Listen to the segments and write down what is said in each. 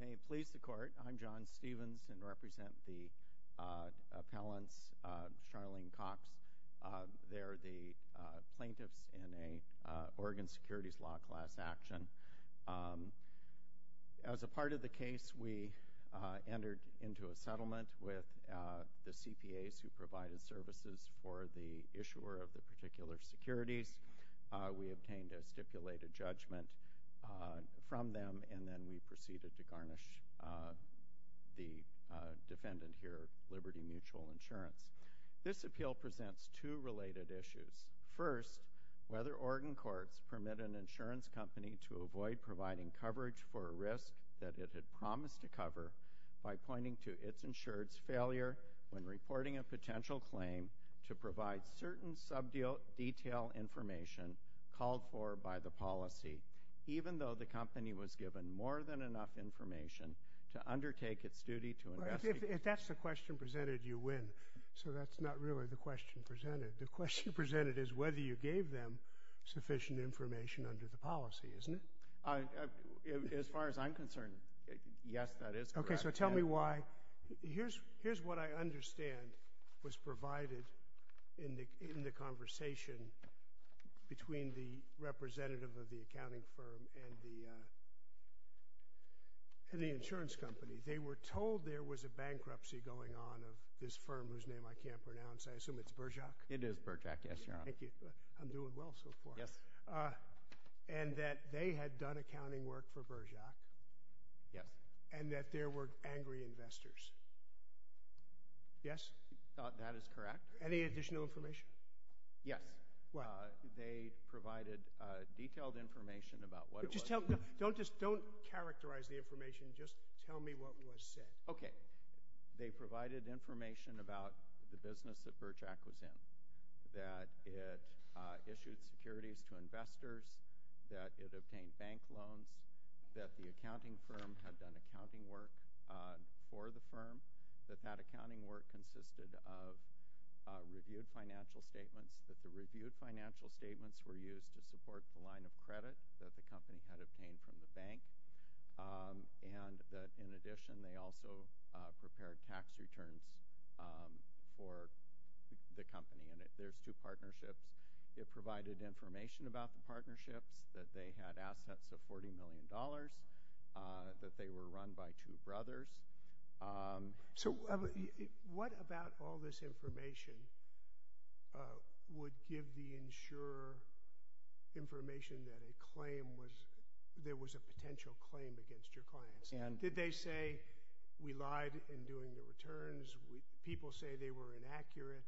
May it please the Court, I'm John Stevens and represent the appellants, Charlene Cox. They're the plaintiffs in an Oregon Securities Law class action. As a part of the case, we entered into a settlement with the CPAs who provided services for the issuer of the particular securities. We obtained a stipulated judgment from them, and then we proceeded to garnish the defendant here, Liberty Mutual Insurance. This appeal presents two related issues. First, whether Oregon courts permit an insurance company to avoid providing coverage for a risk that it had promised to cover by pointing to its insured's failure when reporting a potential claim to provide certain sub-detail information called for by the policy, even though the company was given more than enough information to undertake its duty to investigate. If that's the question presented, you win. So that's not really the question presented. The question presented is whether you gave them sufficient information under the policy, isn't it? As far as I'm concerned, yes, that is correct. Okay, so tell me why. Here's what I understand was provided in the conversation between the representative of the accounting firm and the insurance company. They were told there was a bankruptcy going on of this firm whose name I can't pronounce. I assume it's Berjak? It is Berjak, yes, Your Honor. Thank you. I'm doing well so far. Yes. And that they had done accounting work for Berjak. Yes. And that there were angry investors. Yes? That is correct. Any additional information? Yes. They provided detailed information about what it was. Don't characterize the information. Just tell me what was said. Okay. They provided information about the business that Berjak was in, that it issued securities to investors, that it obtained bank loans, that the accounting firm had done accounting work for the firm, that that accounting work consisted of reviewed financial statements, that the reviewed financial statements were used to support the line of credit that the company had obtained from the bank, and that, in addition, they also prepared tax returns for the company. And there's two partnerships. It provided information about the partnerships, that they had assets of $40 million, that they were run by two brothers. So what about all this information would give the insurer information that there was a potential claim against your clients? Did they say, we lied in doing the returns, people say they were inaccurate,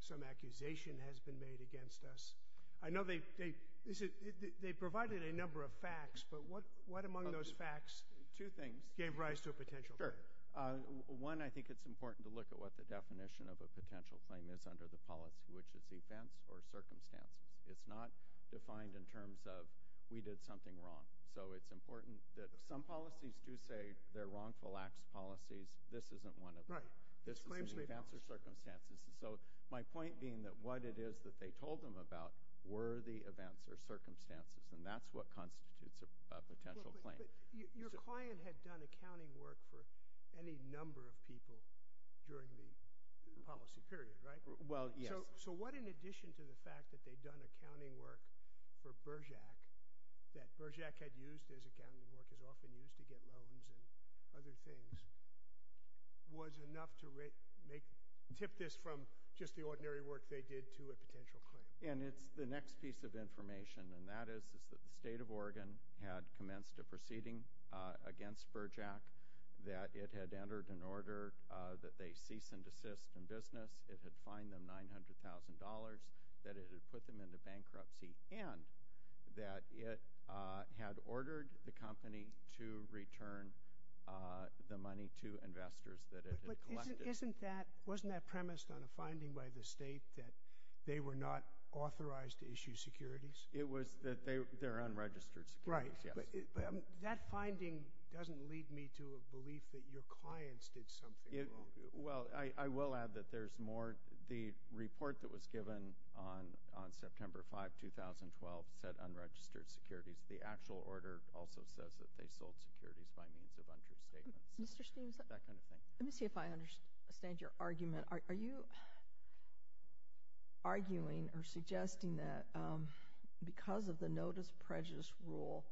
some accusation has been made against us? I know they provided a number of facts, but what among those facts gave rise to a potential claim? Sure. One, I think it's important to look at what the definition of a potential claim is under the policy, which is events or circumstances. It's not defined in terms of we did something wrong. So it's important that some policies do say they're wrongful acts policies. This isn't one of them. Right. This is in events or circumstances. So my point being that what it is that they told them about were the events or circumstances, and that's what constitutes a potential claim. But your client had done accounting work for any number of people during the policy period, right? Well, yes. So what, in addition to the fact that they'd done accounting work for Bergec, that Bergec had used as accounting work, is often used to get loans and other things, was enough to tip this from just the ordinary work they did to a potential claim? And it's the next piece of information, and that is that the State of Oregon had commenced a proceeding against Bergec, that it had entered an order that they cease and desist in business, it had fined them $900,000, that it had put them into bankruptcy, and that it had ordered the company to return the money to investors that it had collected. Isn't that – wasn't that premised on a finding by the State that they were not authorized to issue securities? It was that they're unregistered securities, yes. Right. But that finding doesn't lead me to a belief that your clients did something wrong. Well, I will add that there's more – the report that was given on September 5, 2012, said unregistered securities. The actual order also says that they sold securities by means of untrue statements, that kind of thing. Let me see if I understand your argument. Are you arguing or suggesting that because of the notice prejudice rule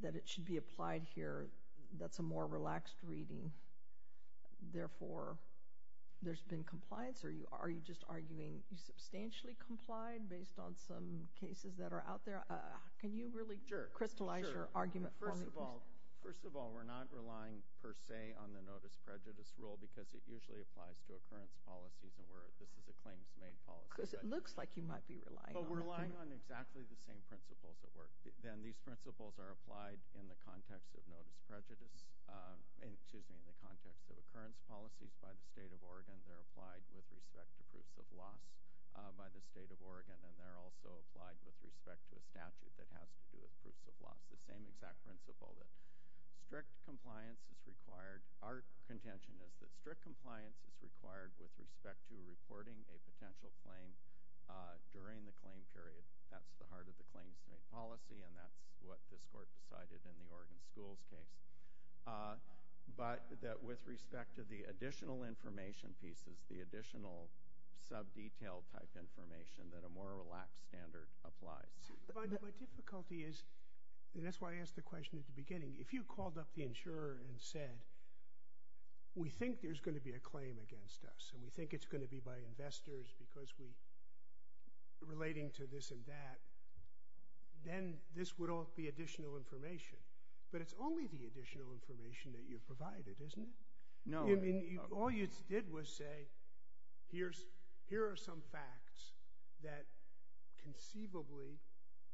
that it should be applied here, that's a more relaxed reading, therefore there's been compliance, or are you just arguing you substantially complied based on some cases that are out there? Can you really crystallize your argument for me? Well, first of all, first of all, we're not relying per se on the notice prejudice rule because it usually applies to occurrence policies, and this is a claims-made policy. Because it looks like you might be relying on it. But we're relying on exactly the same principles at work. These principles are applied in the context of notice prejudice – excuse me, in the context of occurrence policies by the State of Oregon. They're applied with respect to proofs of loss by the State of Oregon, and they're also applied with respect to a statute that has to do with proofs of loss. It's the same exact principle that strict compliance is required. Our contention is that strict compliance is required with respect to reporting a potential claim during the claim period. That's the heart of the claims-made policy, and that's what this Court decided in the Oregon schools case. But that with respect to the additional information pieces, the additional sub-detail type information, that a more relaxed standard applies. My difficulty is – and that's why I asked the question at the beginning. If you called up the insurer and said, we think there's going to be a claim against us, and we think it's going to be by investors because we – relating to this and that, then this would all be additional information. But it's only the additional information that you've provided, isn't it? All you did was say, here are some facts that conceivably,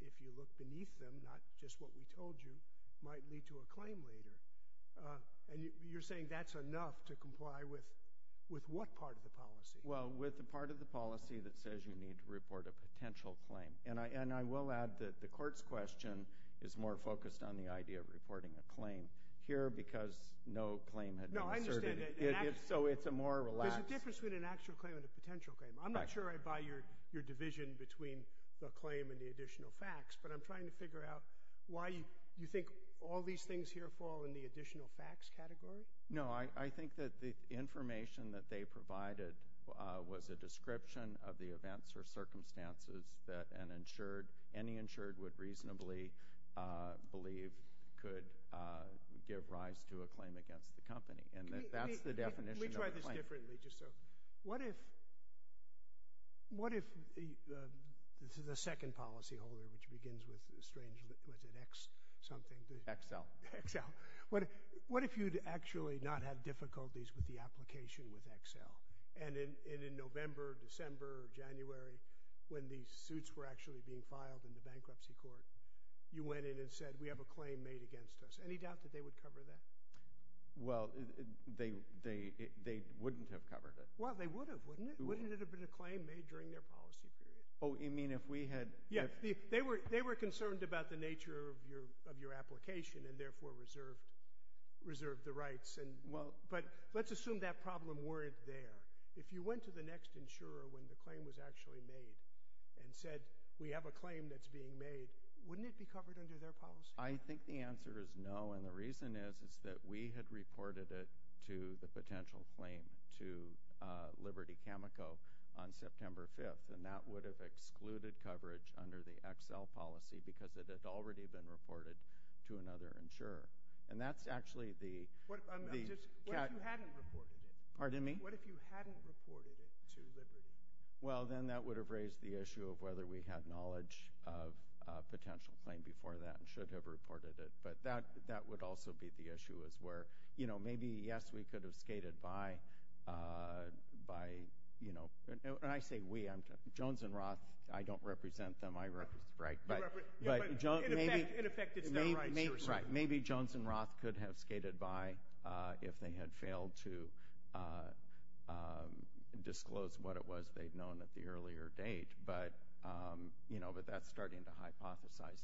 if you look beneath them, not just what we told you, might lead to a claim later. And you're saying that's enough to comply with what part of the policy? Well, with the part of the policy that says you need to report a potential claim. And I will add that the Court's question is more focused on the idea of reporting a claim. Here, because no claim had been asserted, so it's a more relaxed – There's a difference between an actual claim and a potential claim. I'm not sure I buy your division between the claim and the additional facts, but I'm trying to figure out why you think all these things here fall in the additional facts category. No, I think that the information that they provided was a description of the events or circumstances that an insured – any insured would reasonably believe could give rise to a claim against the company. And that's the definition of a claim. Let me try this differently, just so – What if – this is the second policyholder, which begins with a strange – was it X something? XL. XL. What if you'd actually not had difficulties with the application with XL? And in November, December, January, when these suits were actually being filed in the bankruptcy court, you went in and said, we have a claim made against us. Any doubt that they would cover that? Well, they wouldn't have covered it. Well, they would have, wouldn't it? Wouldn't it have been a claim made during their policy period? Oh, you mean if we had – Yeah, they were concerned about the nature of your application and therefore reserved the rights. But let's assume that problem weren't there. If you went to the next insurer when the claim was actually made and said, we have a claim that's being made, wouldn't it be covered under their policy? I think the answer is no. And the reason is, is that we had reported it to the potential claim to Liberty Chemical on September 5th, and that would have excluded coverage under the XL policy because it had already been reported to another insurer. And that's actually the – What if you hadn't reported it? Pardon me? What if you hadn't reported it to Liberty? Well, then that would have raised the issue of whether we had knowledge of a potential claim before that and should have reported it. But that would also be the issue is where, you know, maybe, yes, we could have skated by, you know – and I say we. Jones and Roth, I don't represent them. I represent – right. But in effect, it's their rights. Right. Maybe Jones and Roth could have skated by if they had failed to disclose what it was they'd known at the earlier date. But, you know, but that's starting to hypothesize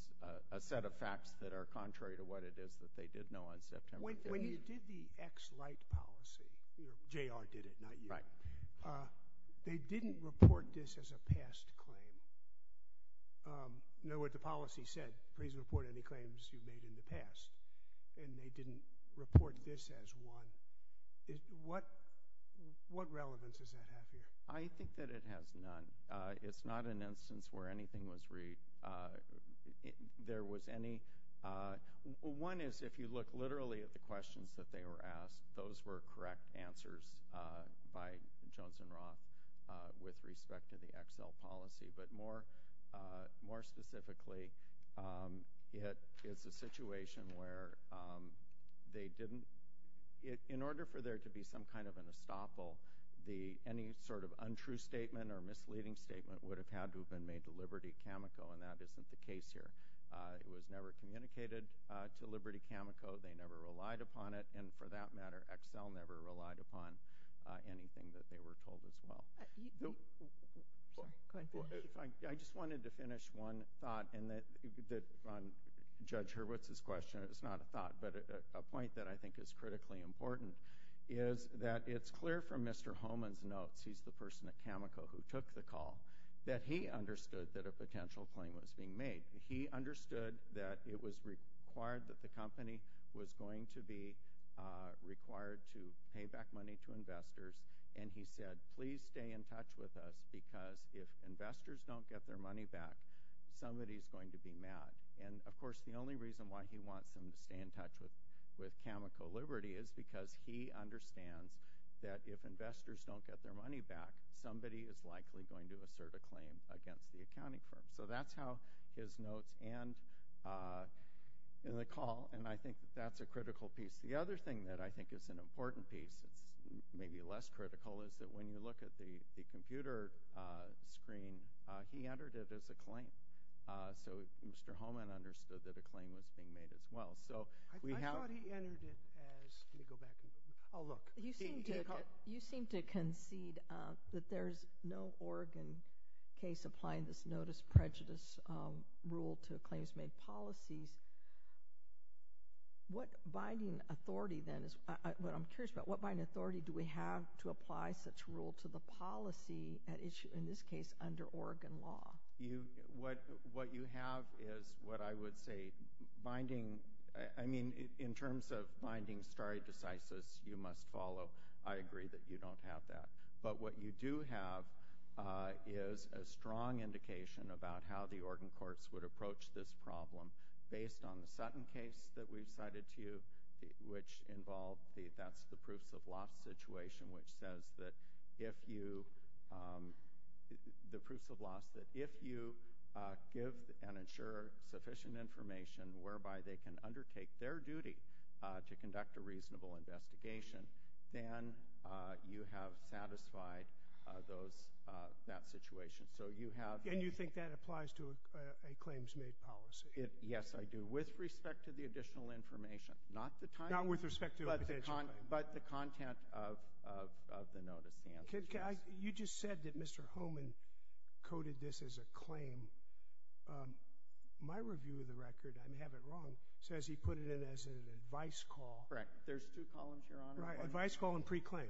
a set of facts that are contrary to what it is that they did know on September 5th. When you did the XL policy – J.R. did it, not you. Right. They didn't report this as a past claim. You know what the policy said. Please report any claims you've made in the past. And they didn't report this as one. What relevance does that have here? I think that it has none. It's not an instance where anything was – there was any – one is if you look literally at the questions that they were asked, those were correct answers by Jones and Roth with respect to the XL policy. But more specifically, it is a situation where they didn't – in order for there to be some kind of an estoppel, any sort of untrue statement or misleading statement would have had to have been made to Liberty Cameco, and that isn't the case here. It was never communicated to Liberty Cameco. They never relied upon it. And for that matter, XL never relied upon anything that they were told as well. Sorry. Go ahead. I just wanted to finish one thought on Judge Hurwitz's question. It's not a thought, but a point that I think is critically important is that it's clear from Mr. Homan's notes – he's the person at Cameco who took the call – that he understood that a potential claim was being made. He understood that it was required that the company was going to be required to pay back money to investors, and he said, please stay in touch with us because if investors don't get their money back, somebody is going to be mad. And, of course, the only reason why he wants them to stay in touch with Cameco Liberty is because he understands that if investors don't get their money back, somebody is likely going to assert a claim against the accounting firm. So that's how his notes end in the call, and I think that that's a critical piece. The other thing that I think is an important piece, maybe less critical, is that when you look at the computer screen, he entered it as a claim. So Mr. Homan understood that a claim was being made as well. I thought he entered it as – let me go back. You seem to concede that there is no Oregon case applying this notice prejudice rule to claims-made policies. What binding authority, then, is – what I'm curious about, what binding authority do we have to apply such rule to the policy at issue, in this case, under Oregon law? What you have is what I would say binding – I mean, in terms of binding stare decisis, you must follow. I agree that you don't have that. But what you do have is a strong indication about how the Oregon courts would approach this problem based on the Sutton case that we've cited to you, which involved – that's the proofs-of-loss situation, which says that if you – the proofs-of-loss that if you give an insurer sufficient information whereby they can undertake their duty to conduct a reasonable investigation, then you have satisfied those – that situation. So you have – And you think that applies to a claims-made policy? Yes, I do, with respect to the additional information. Not the time – Not with respect to the additional information. But the content of the notice. You just said that Mr. Homan coded this as a claim. My review of the record – I may have it wrong – says he put it in as an advice call. Correct. There's two columns, Your Honor. Right. Advice call and pre-claim.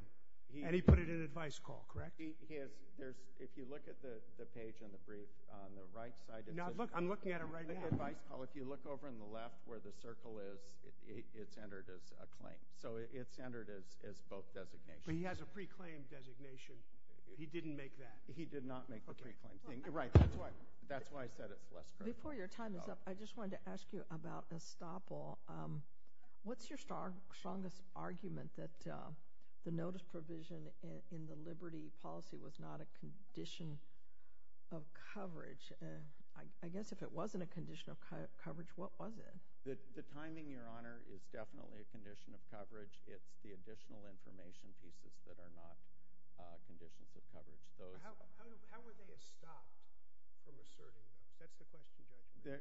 And he put it in advice call, correct? If you look at the page on the right side – I'm looking at it right now. If you look over on the left where the circle is, it's entered as a claim. So it's entered as both designations. But he has a pre-claim designation. He didn't make that. He did not make the pre-claim thing. Okay. Right. That's why I said it's less correct. Before your time is up, I just wanted to ask you about estoppel. What's your strongest argument that the notice provision in the Liberty policy was not a condition of coverage? I guess if it wasn't a condition of coverage, what was it? The timing, Your Honor, is definitely a condition of coverage. It's the additional information pieces that are not conditions of coverage. How were they estopped from asserting those? That's the question, Judge.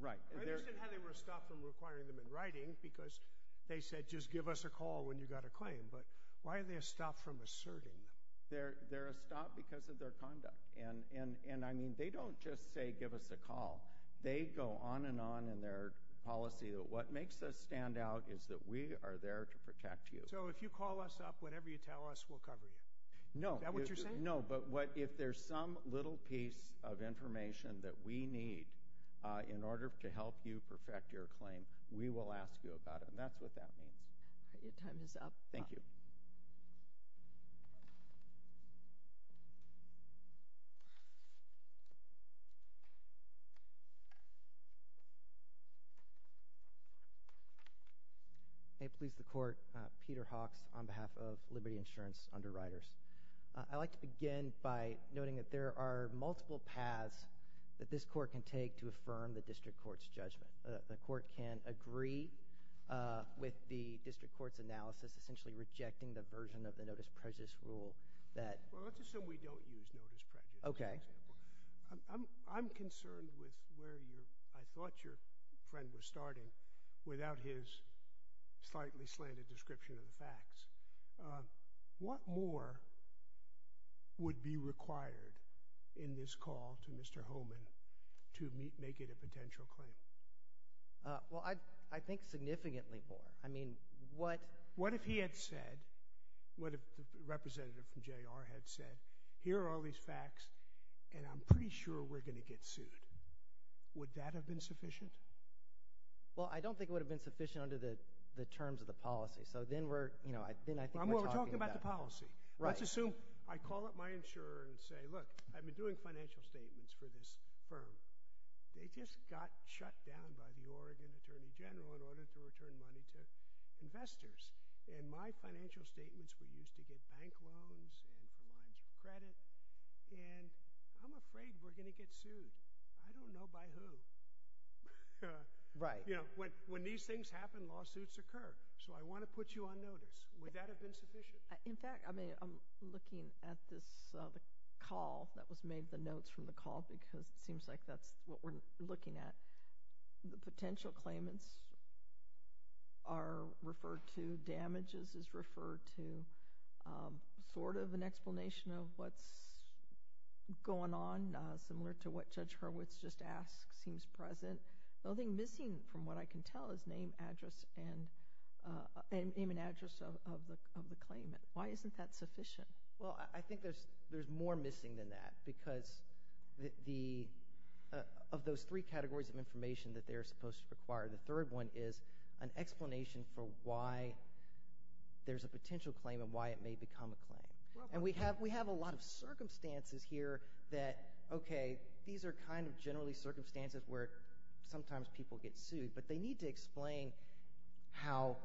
I understand how they were estopped from requiring them in writing because they said, just give us a call when you've got a claim. But why are they estopped from asserting them? They're estopped because of their conduct. And, I mean, they don't just say, give us a call. They go on and on in their policy. What makes us stand out is that we are there to protect you. So if you call us up, whatever you tell us, we'll cover you. Is that what you're saying? No, but if there's some little piece of information that we need in order to help you perfect your claim, we will ask you about it, and that's what that means. Your time is up. Thank you. May it please the Court, Peter Hawks on behalf of Liberty Insurance Underwriters. I'd like to begin by noting that there are multiple paths that this Court can take to affirm the district court's judgment. The Court can agree with the district court's analysis, essentially rejecting the version of the notice prejudice rule that Well, let's assume we don't use notice prejudice, for example. Okay. I'm concerned with where I thought your friend was starting without his slightly slanted description of the facts. What more would be required in this call to Mr. Homan to make it a potential claim? Well, I think significantly more. I mean, what What if he had said, what if the representative from JR had said, here are all these facts, and I'm pretty sure we're going to get sued? Would that have been sufficient? Well, I don't think it would have been sufficient under the terms of the policy. So then I think we're talking about We're talking about the policy. Let's assume I call up my insurer and say, look, I've been doing financial statements for this firm. They just got shut down by the Oregon Attorney General in order to return money to investors. And my financial statements were used to get bank loans and for lines of credit, and I'm afraid we're going to get sued. I don't know by who. Right. But, you know, when these things happen, lawsuits occur. So I want to put you on notice. Would that have been sufficient? In fact, I mean, I'm looking at this call that was made, the notes from the call, because it seems like that's what we're looking at. The potential claimants are referred to. Damages is referred to. Sort of an explanation of what's going on, similar to what Judge Hurwitz just asked, seems present. Nothing missing from what I can tell is name, address, and name and address of the claimant. Why isn't that sufficient? Well, I think there's more missing than that, because of those three categories of information that they're supposed to require, the third one is an explanation for why there's a potential claim and why it may become a claim. And we have a lot of circumstances here that, okay, these are kind of generally circumstances where sometimes people get sued, but they need to explain how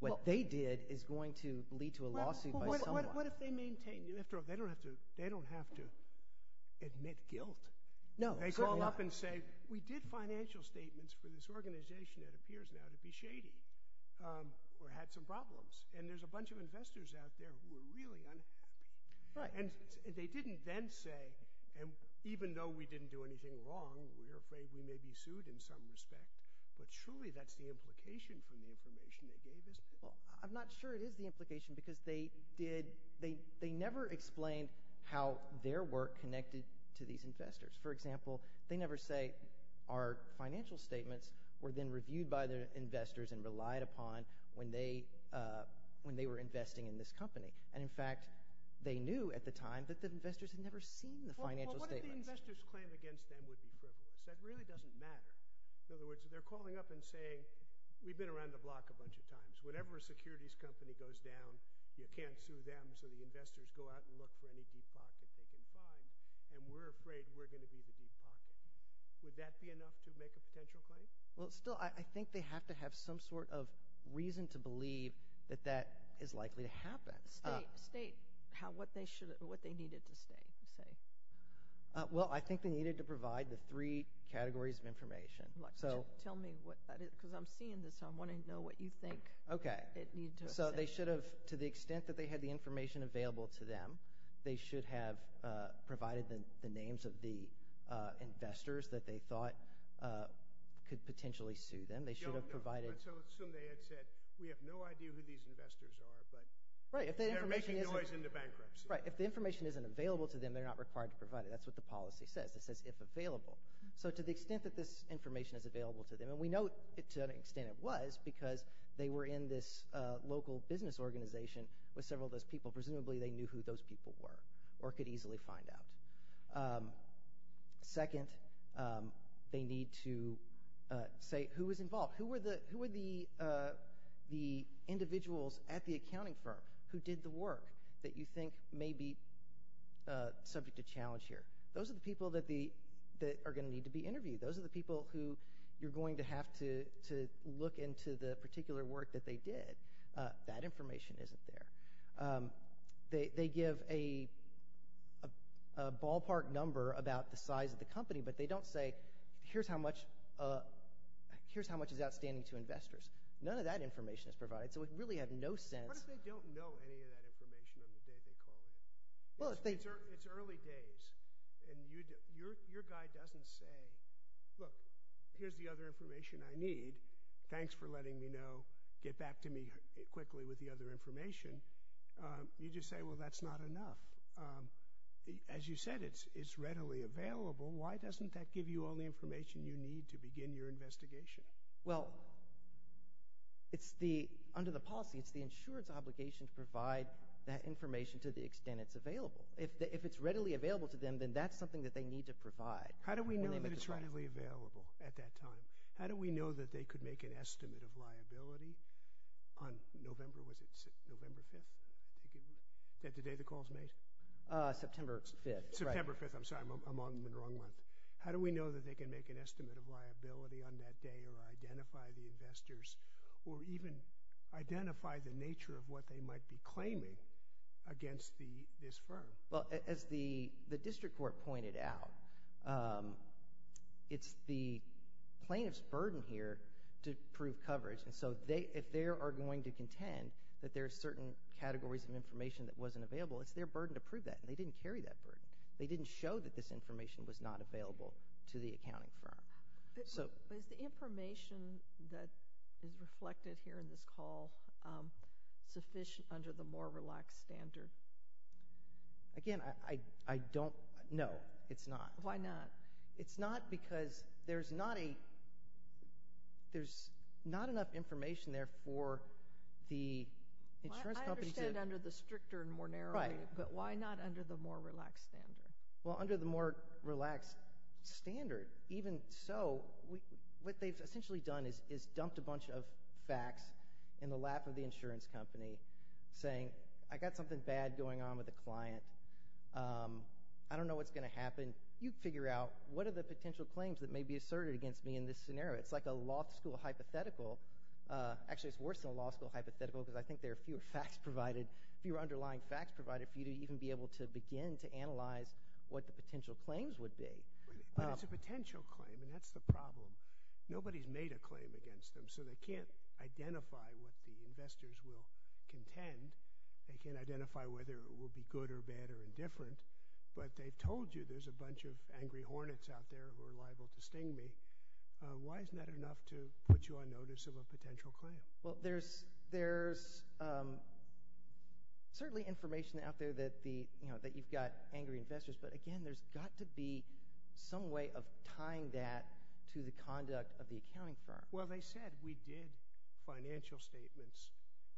what they did is going to lead to a lawsuit by someone. Well, what if they maintain? They don't have to admit guilt. No. They go up and say, we did financial statements for this organization that appears now to be shady or had some problems, and there's a bunch of investors out there who are really unhappy. Right. And they didn't then say, and even though we didn't do anything wrong, we're afraid we may be sued in some respect, but surely that's the implication from the information they gave us. Well, I'm not sure it is the implication because they never explained how their work connected to these investors. For example, they never say our financial statements were then reviewed by the investors and relied upon when they were investing in this company. And, in fact, they knew at the time that the investors had never seen the financial statements. Well, what if the investors' claim against them would be frivolous? That really doesn't matter. In other words, they're calling up and saying, we've been around the block a bunch of times. Whenever a securities company goes down, you can't sue them, so the investors go out and look for any deep pocket they can find, and we're afraid we're going to be the deep pocket. Would that be enough to make a potential claim? Well, still, I think they have to have some sort of reason to believe that that is likely to happen. State what they needed to say. Well, I think they needed to provide the three categories of information. Tell me what that is because I'm seeing this, so I want to know what you think it needed to say. Okay, so they should have, to the extent that they had the information available to them, they should have provided the names of the investors that they thought could potentially sue them. They should have provided – No, no. So assume they had said, we have no idea who these investors are, but they're making noise in the bankruptcy. Right. If the information isn't available to them, they're not required to provide it. That's what the policy says. It says if available. So to the extent that this information is available to them, and we know to an extent it was because they were in this local business organization with several of those people, presumably they knew who those people were or could easily find out. Second, they need to say who was involved. Who were the individuals at the accounting firm who did the work that you think may be subject to challenge here? Those are the people that are going to need to be interviewed. Those are the people who you're going to have to look into the particular work that they did. That information isn't there. They give a ballpark number about the size of the company, but they don't say, here's how much is outstanding to investors. None of that information is provided. So we really have no sense – What if they don't know any of that information on the day they call in? It's early days, and your guy doesn't say, look, here's the other information I need. Thanks for letting me know. Get back to me quickly with the other information. You just say, well, that's not enough. As you said, it's readily available. Why doesn't that give you all the information you need to begin your investigation? Well, under the policy, it's the insurer's obligation to provide that information to the extent it's available. If it's readily available to them, then that's something that they need to provide. How do we know that it's readily available at that time? How do we know that they could make an estimate of liability on November 5th, the day the call is made? September 5th. September 5th. I'm sorry. I'm on the wrong month. How do we know that they can make an estimate of liability on that day or identify the investors or even identify the nature of what they might be claiming against this firm? Well, as the district court pointed out, it's the plaintiff's burden here to prove coverage. And so if they are going to contend that there are certain categories of information that wasn't available, it's their burden to prove that, and they didn't carry that burden. They didn't show that this information was not available to the accounting firm. Is the information that is reflected here in this call sufficient under the more relaxed standard? Again, I don't know. It's not. Why not? It's not because there's not enough information there for the insurance companies. I understand under the stricter and more narrowly, but why not under the more relaxed standard? Well, under the more relaxed standard, even so, what they've essentially done is dumped a bunch of facts in the lap of the insurance company saying, I got something bad going on with a client. I don't know what's going to happen. You figure out what are the potential claims that may be asserted against me in this scenario. It's like a law school hypothetical. Actually, it's worse than a law school hypothetical because I think there are fewer facts provided, fewer underlying facts provided for you to even be able to begin to analyze what the potential claims would be. But it's a potential claim, and that's the problem. Nobody's made a claim against them, so they can't identify what the investors will contend. They can't identify whether it will be good or bad or indifferent. But they've told you there's a bunch of angry hornets out there who are liable to sting me. Why isn't that enough to put you on notice of a potential claim? Well, there's certainly information out there that you've got angry investors, but again, there's got to be some way of tying that to the conduct of the accounting firm. Well, they said we did financial statements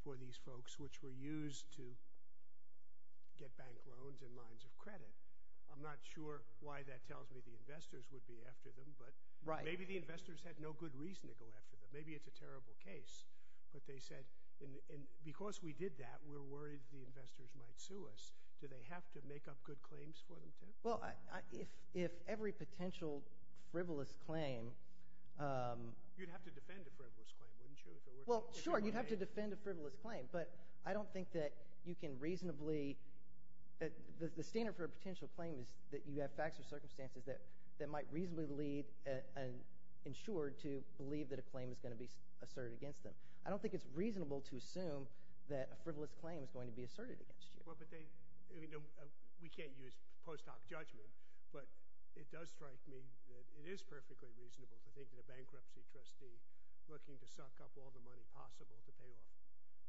for these folks which were used to get bank loans and lines of credit. I'm not sure why that tells me the investors would be after them, but maybe the investors had no good reason to go after them. Maybe it's a terrible case, but they said because we did that, we're worried the investors might sue us. Do they have to make up good claims for them too? Well, if every potential frivolous claim— You'd have to defend a frivolous claim, wouldn't you? Well, sure, you'd have to defend a frivolous claim, but I don't think that you can reasonably— the standard for a potential claim is that you have facts or circumstances that might reasonably lead an insured to believe that a claim is going to be asserted against them. I don't think it's reasonable to assume that a frivolous claim is going to be asserted against you. Well, but they—we can't use post hoc judgment, but it does strike me that it is perfectly reasonable to think that a bankruptcy trustee looking to suck up all the money possible to pay off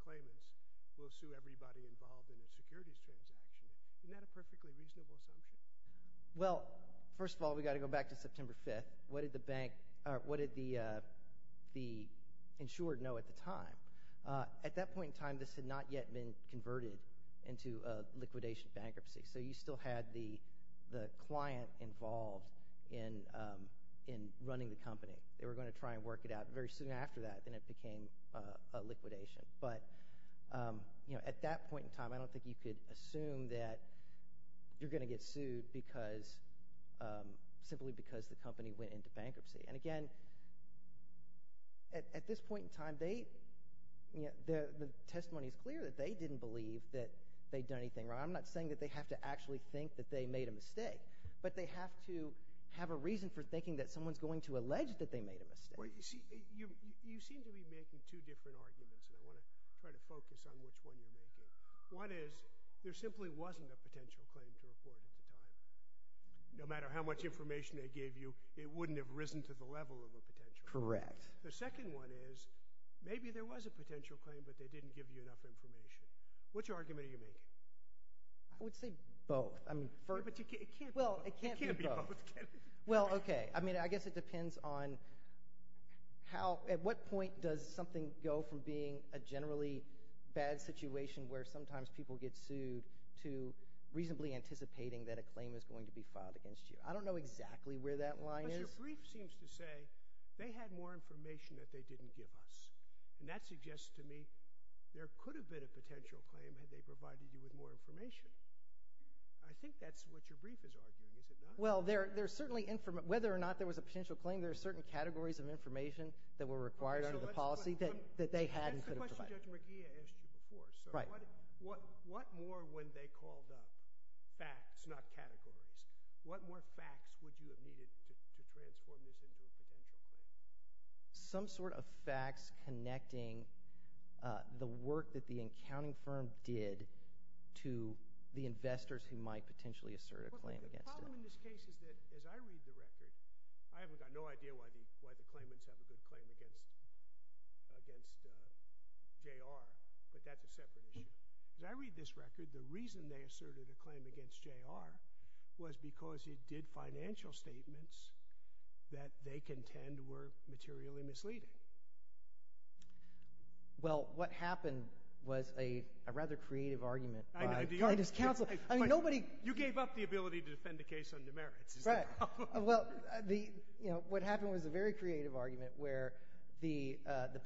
claimants will sue everybody involved in a securities transaction. Isn't that a perfectly reasonable assumption? Well, first of all, we've got to go back to September 5th. What did the bank—what did the insured know at the time? At that point in time, this had not yet been converted into a liquidation bankruptcy, so you still had the client involved in running the company. They were going to try and work it out. Very soon after that, then it became a liquidation. But at that point in time, I don't think you could assume that you're going to get sued because— simply because the company went into bankruptcy. And again, at this point in time, they—the testimony is clear that they didn't believe that they'd done anything wrong. I'm not saying that they have to actually think that they made a mistake, but they have to have a reason for thinking that someone's going to allege that they made a mistake. Well, you seem to be making two different arguments, and I want to try to focus on which one you're making. One is there simply wasn't a potential claim to report at the time. No matter how much information they gave you, it wouldn't have risen to the level of a potential claim. Correct. The second one is maybe there was a potential claim, but they didn't give you enough information. Which argument are you making? I would say both. Yeah, but it can't be both. It can't be both. Well, okay. I mean, I guess it depends on how—at what point does something go from being a generally bad situation where sometimes people get sued to reasonably anticipating that a claim is going to be filed against you. I don't know exactly where that line is. But your brief seems to say they had more information that they didn't give us, and that suggests to me there could have been a potential claim had they provided you with more information. Well, there's certainly—whether or not there was a potential claim, there are certain categories of information that were required under the policy that they had and could have provided. That's the question Judge McGee asked you before. Right. What more, when they called up facts, not categories, what more facts would you have needed to transform this into a potential claim? Some sort of facts connecting the work that the accounting firm did to the investors who might potentially assert a claim against it. The problem in this case is that, as I read the record—I haven't got no idea why the claimants have a good claim against J.R., but that's a separate issue. As I read this record, the reason they asserted a claim against J.R. was because it did financial statements that they contend were materially misleading. Well, what happened was a rather creative argument by— You gave up the ability to defend the case on demerits. Right. Well, what happened was a very creative argument where the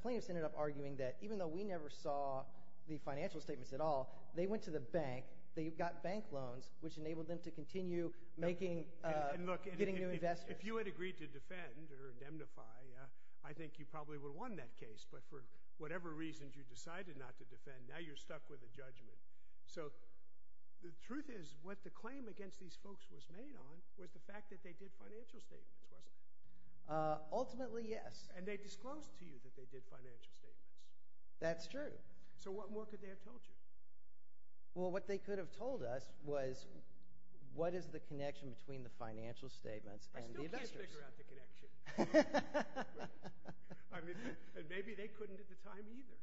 plaintiffs ended up arguing that, even though we never saw the financial statements at all, they went to the bank. They got bank loans, which enabled them to continue making—getting new investors. Look, if you had agreed to defend or indemnify, I think you probably would have won that case. But for whatever reasons you decided not to defend, now you're stuck with a judgment. So the truth is what the claim against these folks was made on was the fact that they did financial statements, wasn't it? Ultimately, yes. And they disclosed to you that they did financial statements. That's true. So what more could they have told you? Well, what they could have told us was what is the connection between the financial statements and the investors. I still can't figure out the connection. I mean, and maybe they couldn't at the time either.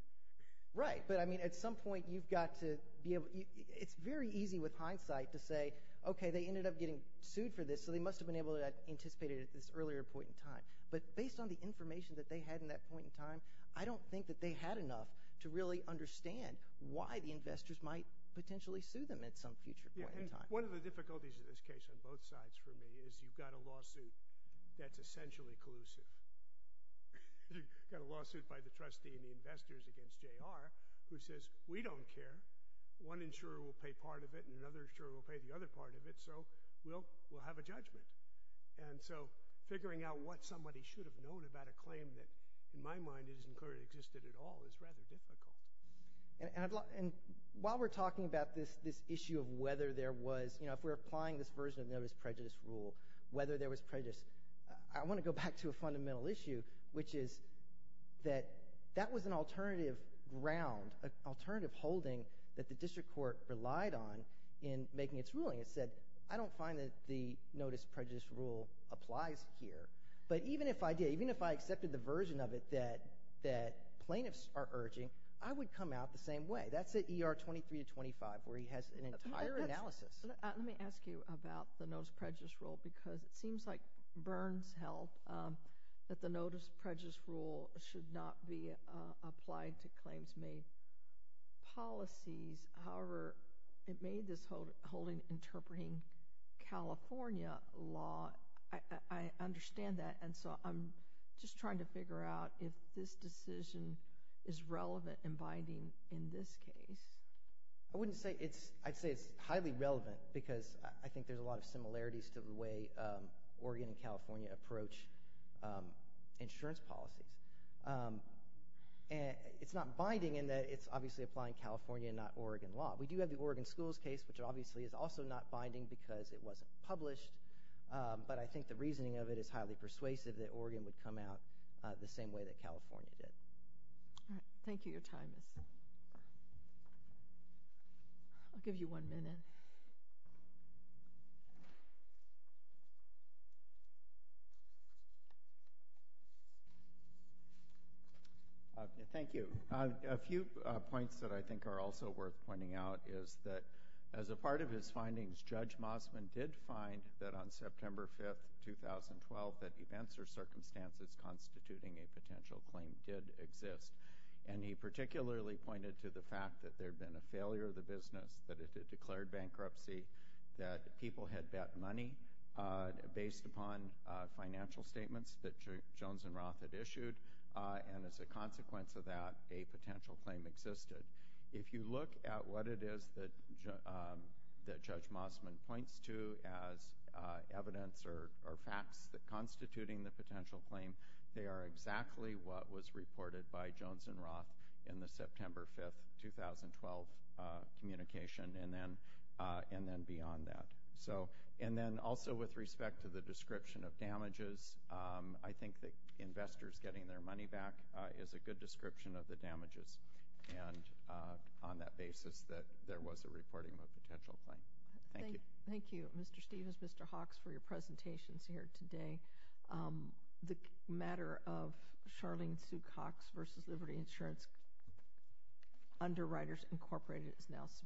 Right. But, I mean, at some point you've got to be able—it's very easy with hindsight to say, okay, they ended up getting sued for this, so they must have been able to anticipate it at this earlier point in time. But based on the information that they had in that point in time, I don't think that they had enough to really understand why the investors might potentially sue them at some future point in time. Yeah, and one of the difficulties in this case on both sides for me is you've got a lawsuit that's essentially collusive. You've got a lawsuit by the trustee and the investors against J.R. who says, we don't care. One insurer will pay part of it, and another insurer will pay the other part of it, so we'll have a judgment. And so figuring out what somebody should have known about a claim that, in my mind, isn't clearly existed at all is rather difficult. And while we're talking about this issue of whether there was—you know, if we're applying this version of Nevis prejudice rule, whether there was prejudice, I want to go back to a fundamental issue, which is that that was an alternative ground, an alternative holding that the district court relied on in making its ruling. It said, I don't find that the notice prejudice rule applies here. But even if I did, even if I accepted the version of it that plaintiffs are urging, I would come out the same way. That's at ER 23 to 25 where he has an entire analysis. Let me ask you about the notice prejudice rule because it seems like Byrne's help that the notice prejudice rule should not be applied to claims made policies. However, it made this holding interpreting California law. I understand that, and so I'm just trying to figure out if this decision is relevant in binding in this case. I wouldn't say it's—I'd say it's highly relevant because I think there's a lot of similarities to the way Oregon and California approach insurance policies. It's not binding in that it's obviously applying California, not Oregon law. We do have the Oregon schools case, which obviously is also not binding because it wasn't published, but I think the reasoning of it is highly persuasive that Oregon would come out the same way that California did. Thank you. Your time is up. I'll give you one minute. Thank you. A few points that I think are also worth pointing out is that as a part of his findings, Judge Mosman did find that on September 5, 2012, that events or circumstances constituting a potential claim did exist. And he particularly pointed to the fact that there had been a failure of the business, that it had declared bankruptcy, that people had bet money based upon financial statements that Jones and Roth had issued, and as a consequence of that, a potential claim existed. If you look at what it is that Judge Mosman points to as evidence or facts constituting the potential claim, they are exactly what was reported by Jones and Roth in the September 5, 2012, communication and then beyond that. And then also with respect to the description of damages, I think that investors getting their money back is a good description of the damages. And on that basis, that there was a reporting of a potential claim. Thank you. Thank you, Mr. Stevens, Mr. Hawks, for your presentations here today. The matter of Charlene Sue Cox v. Liberty Insurance Underwriters Incorporated is now submitted.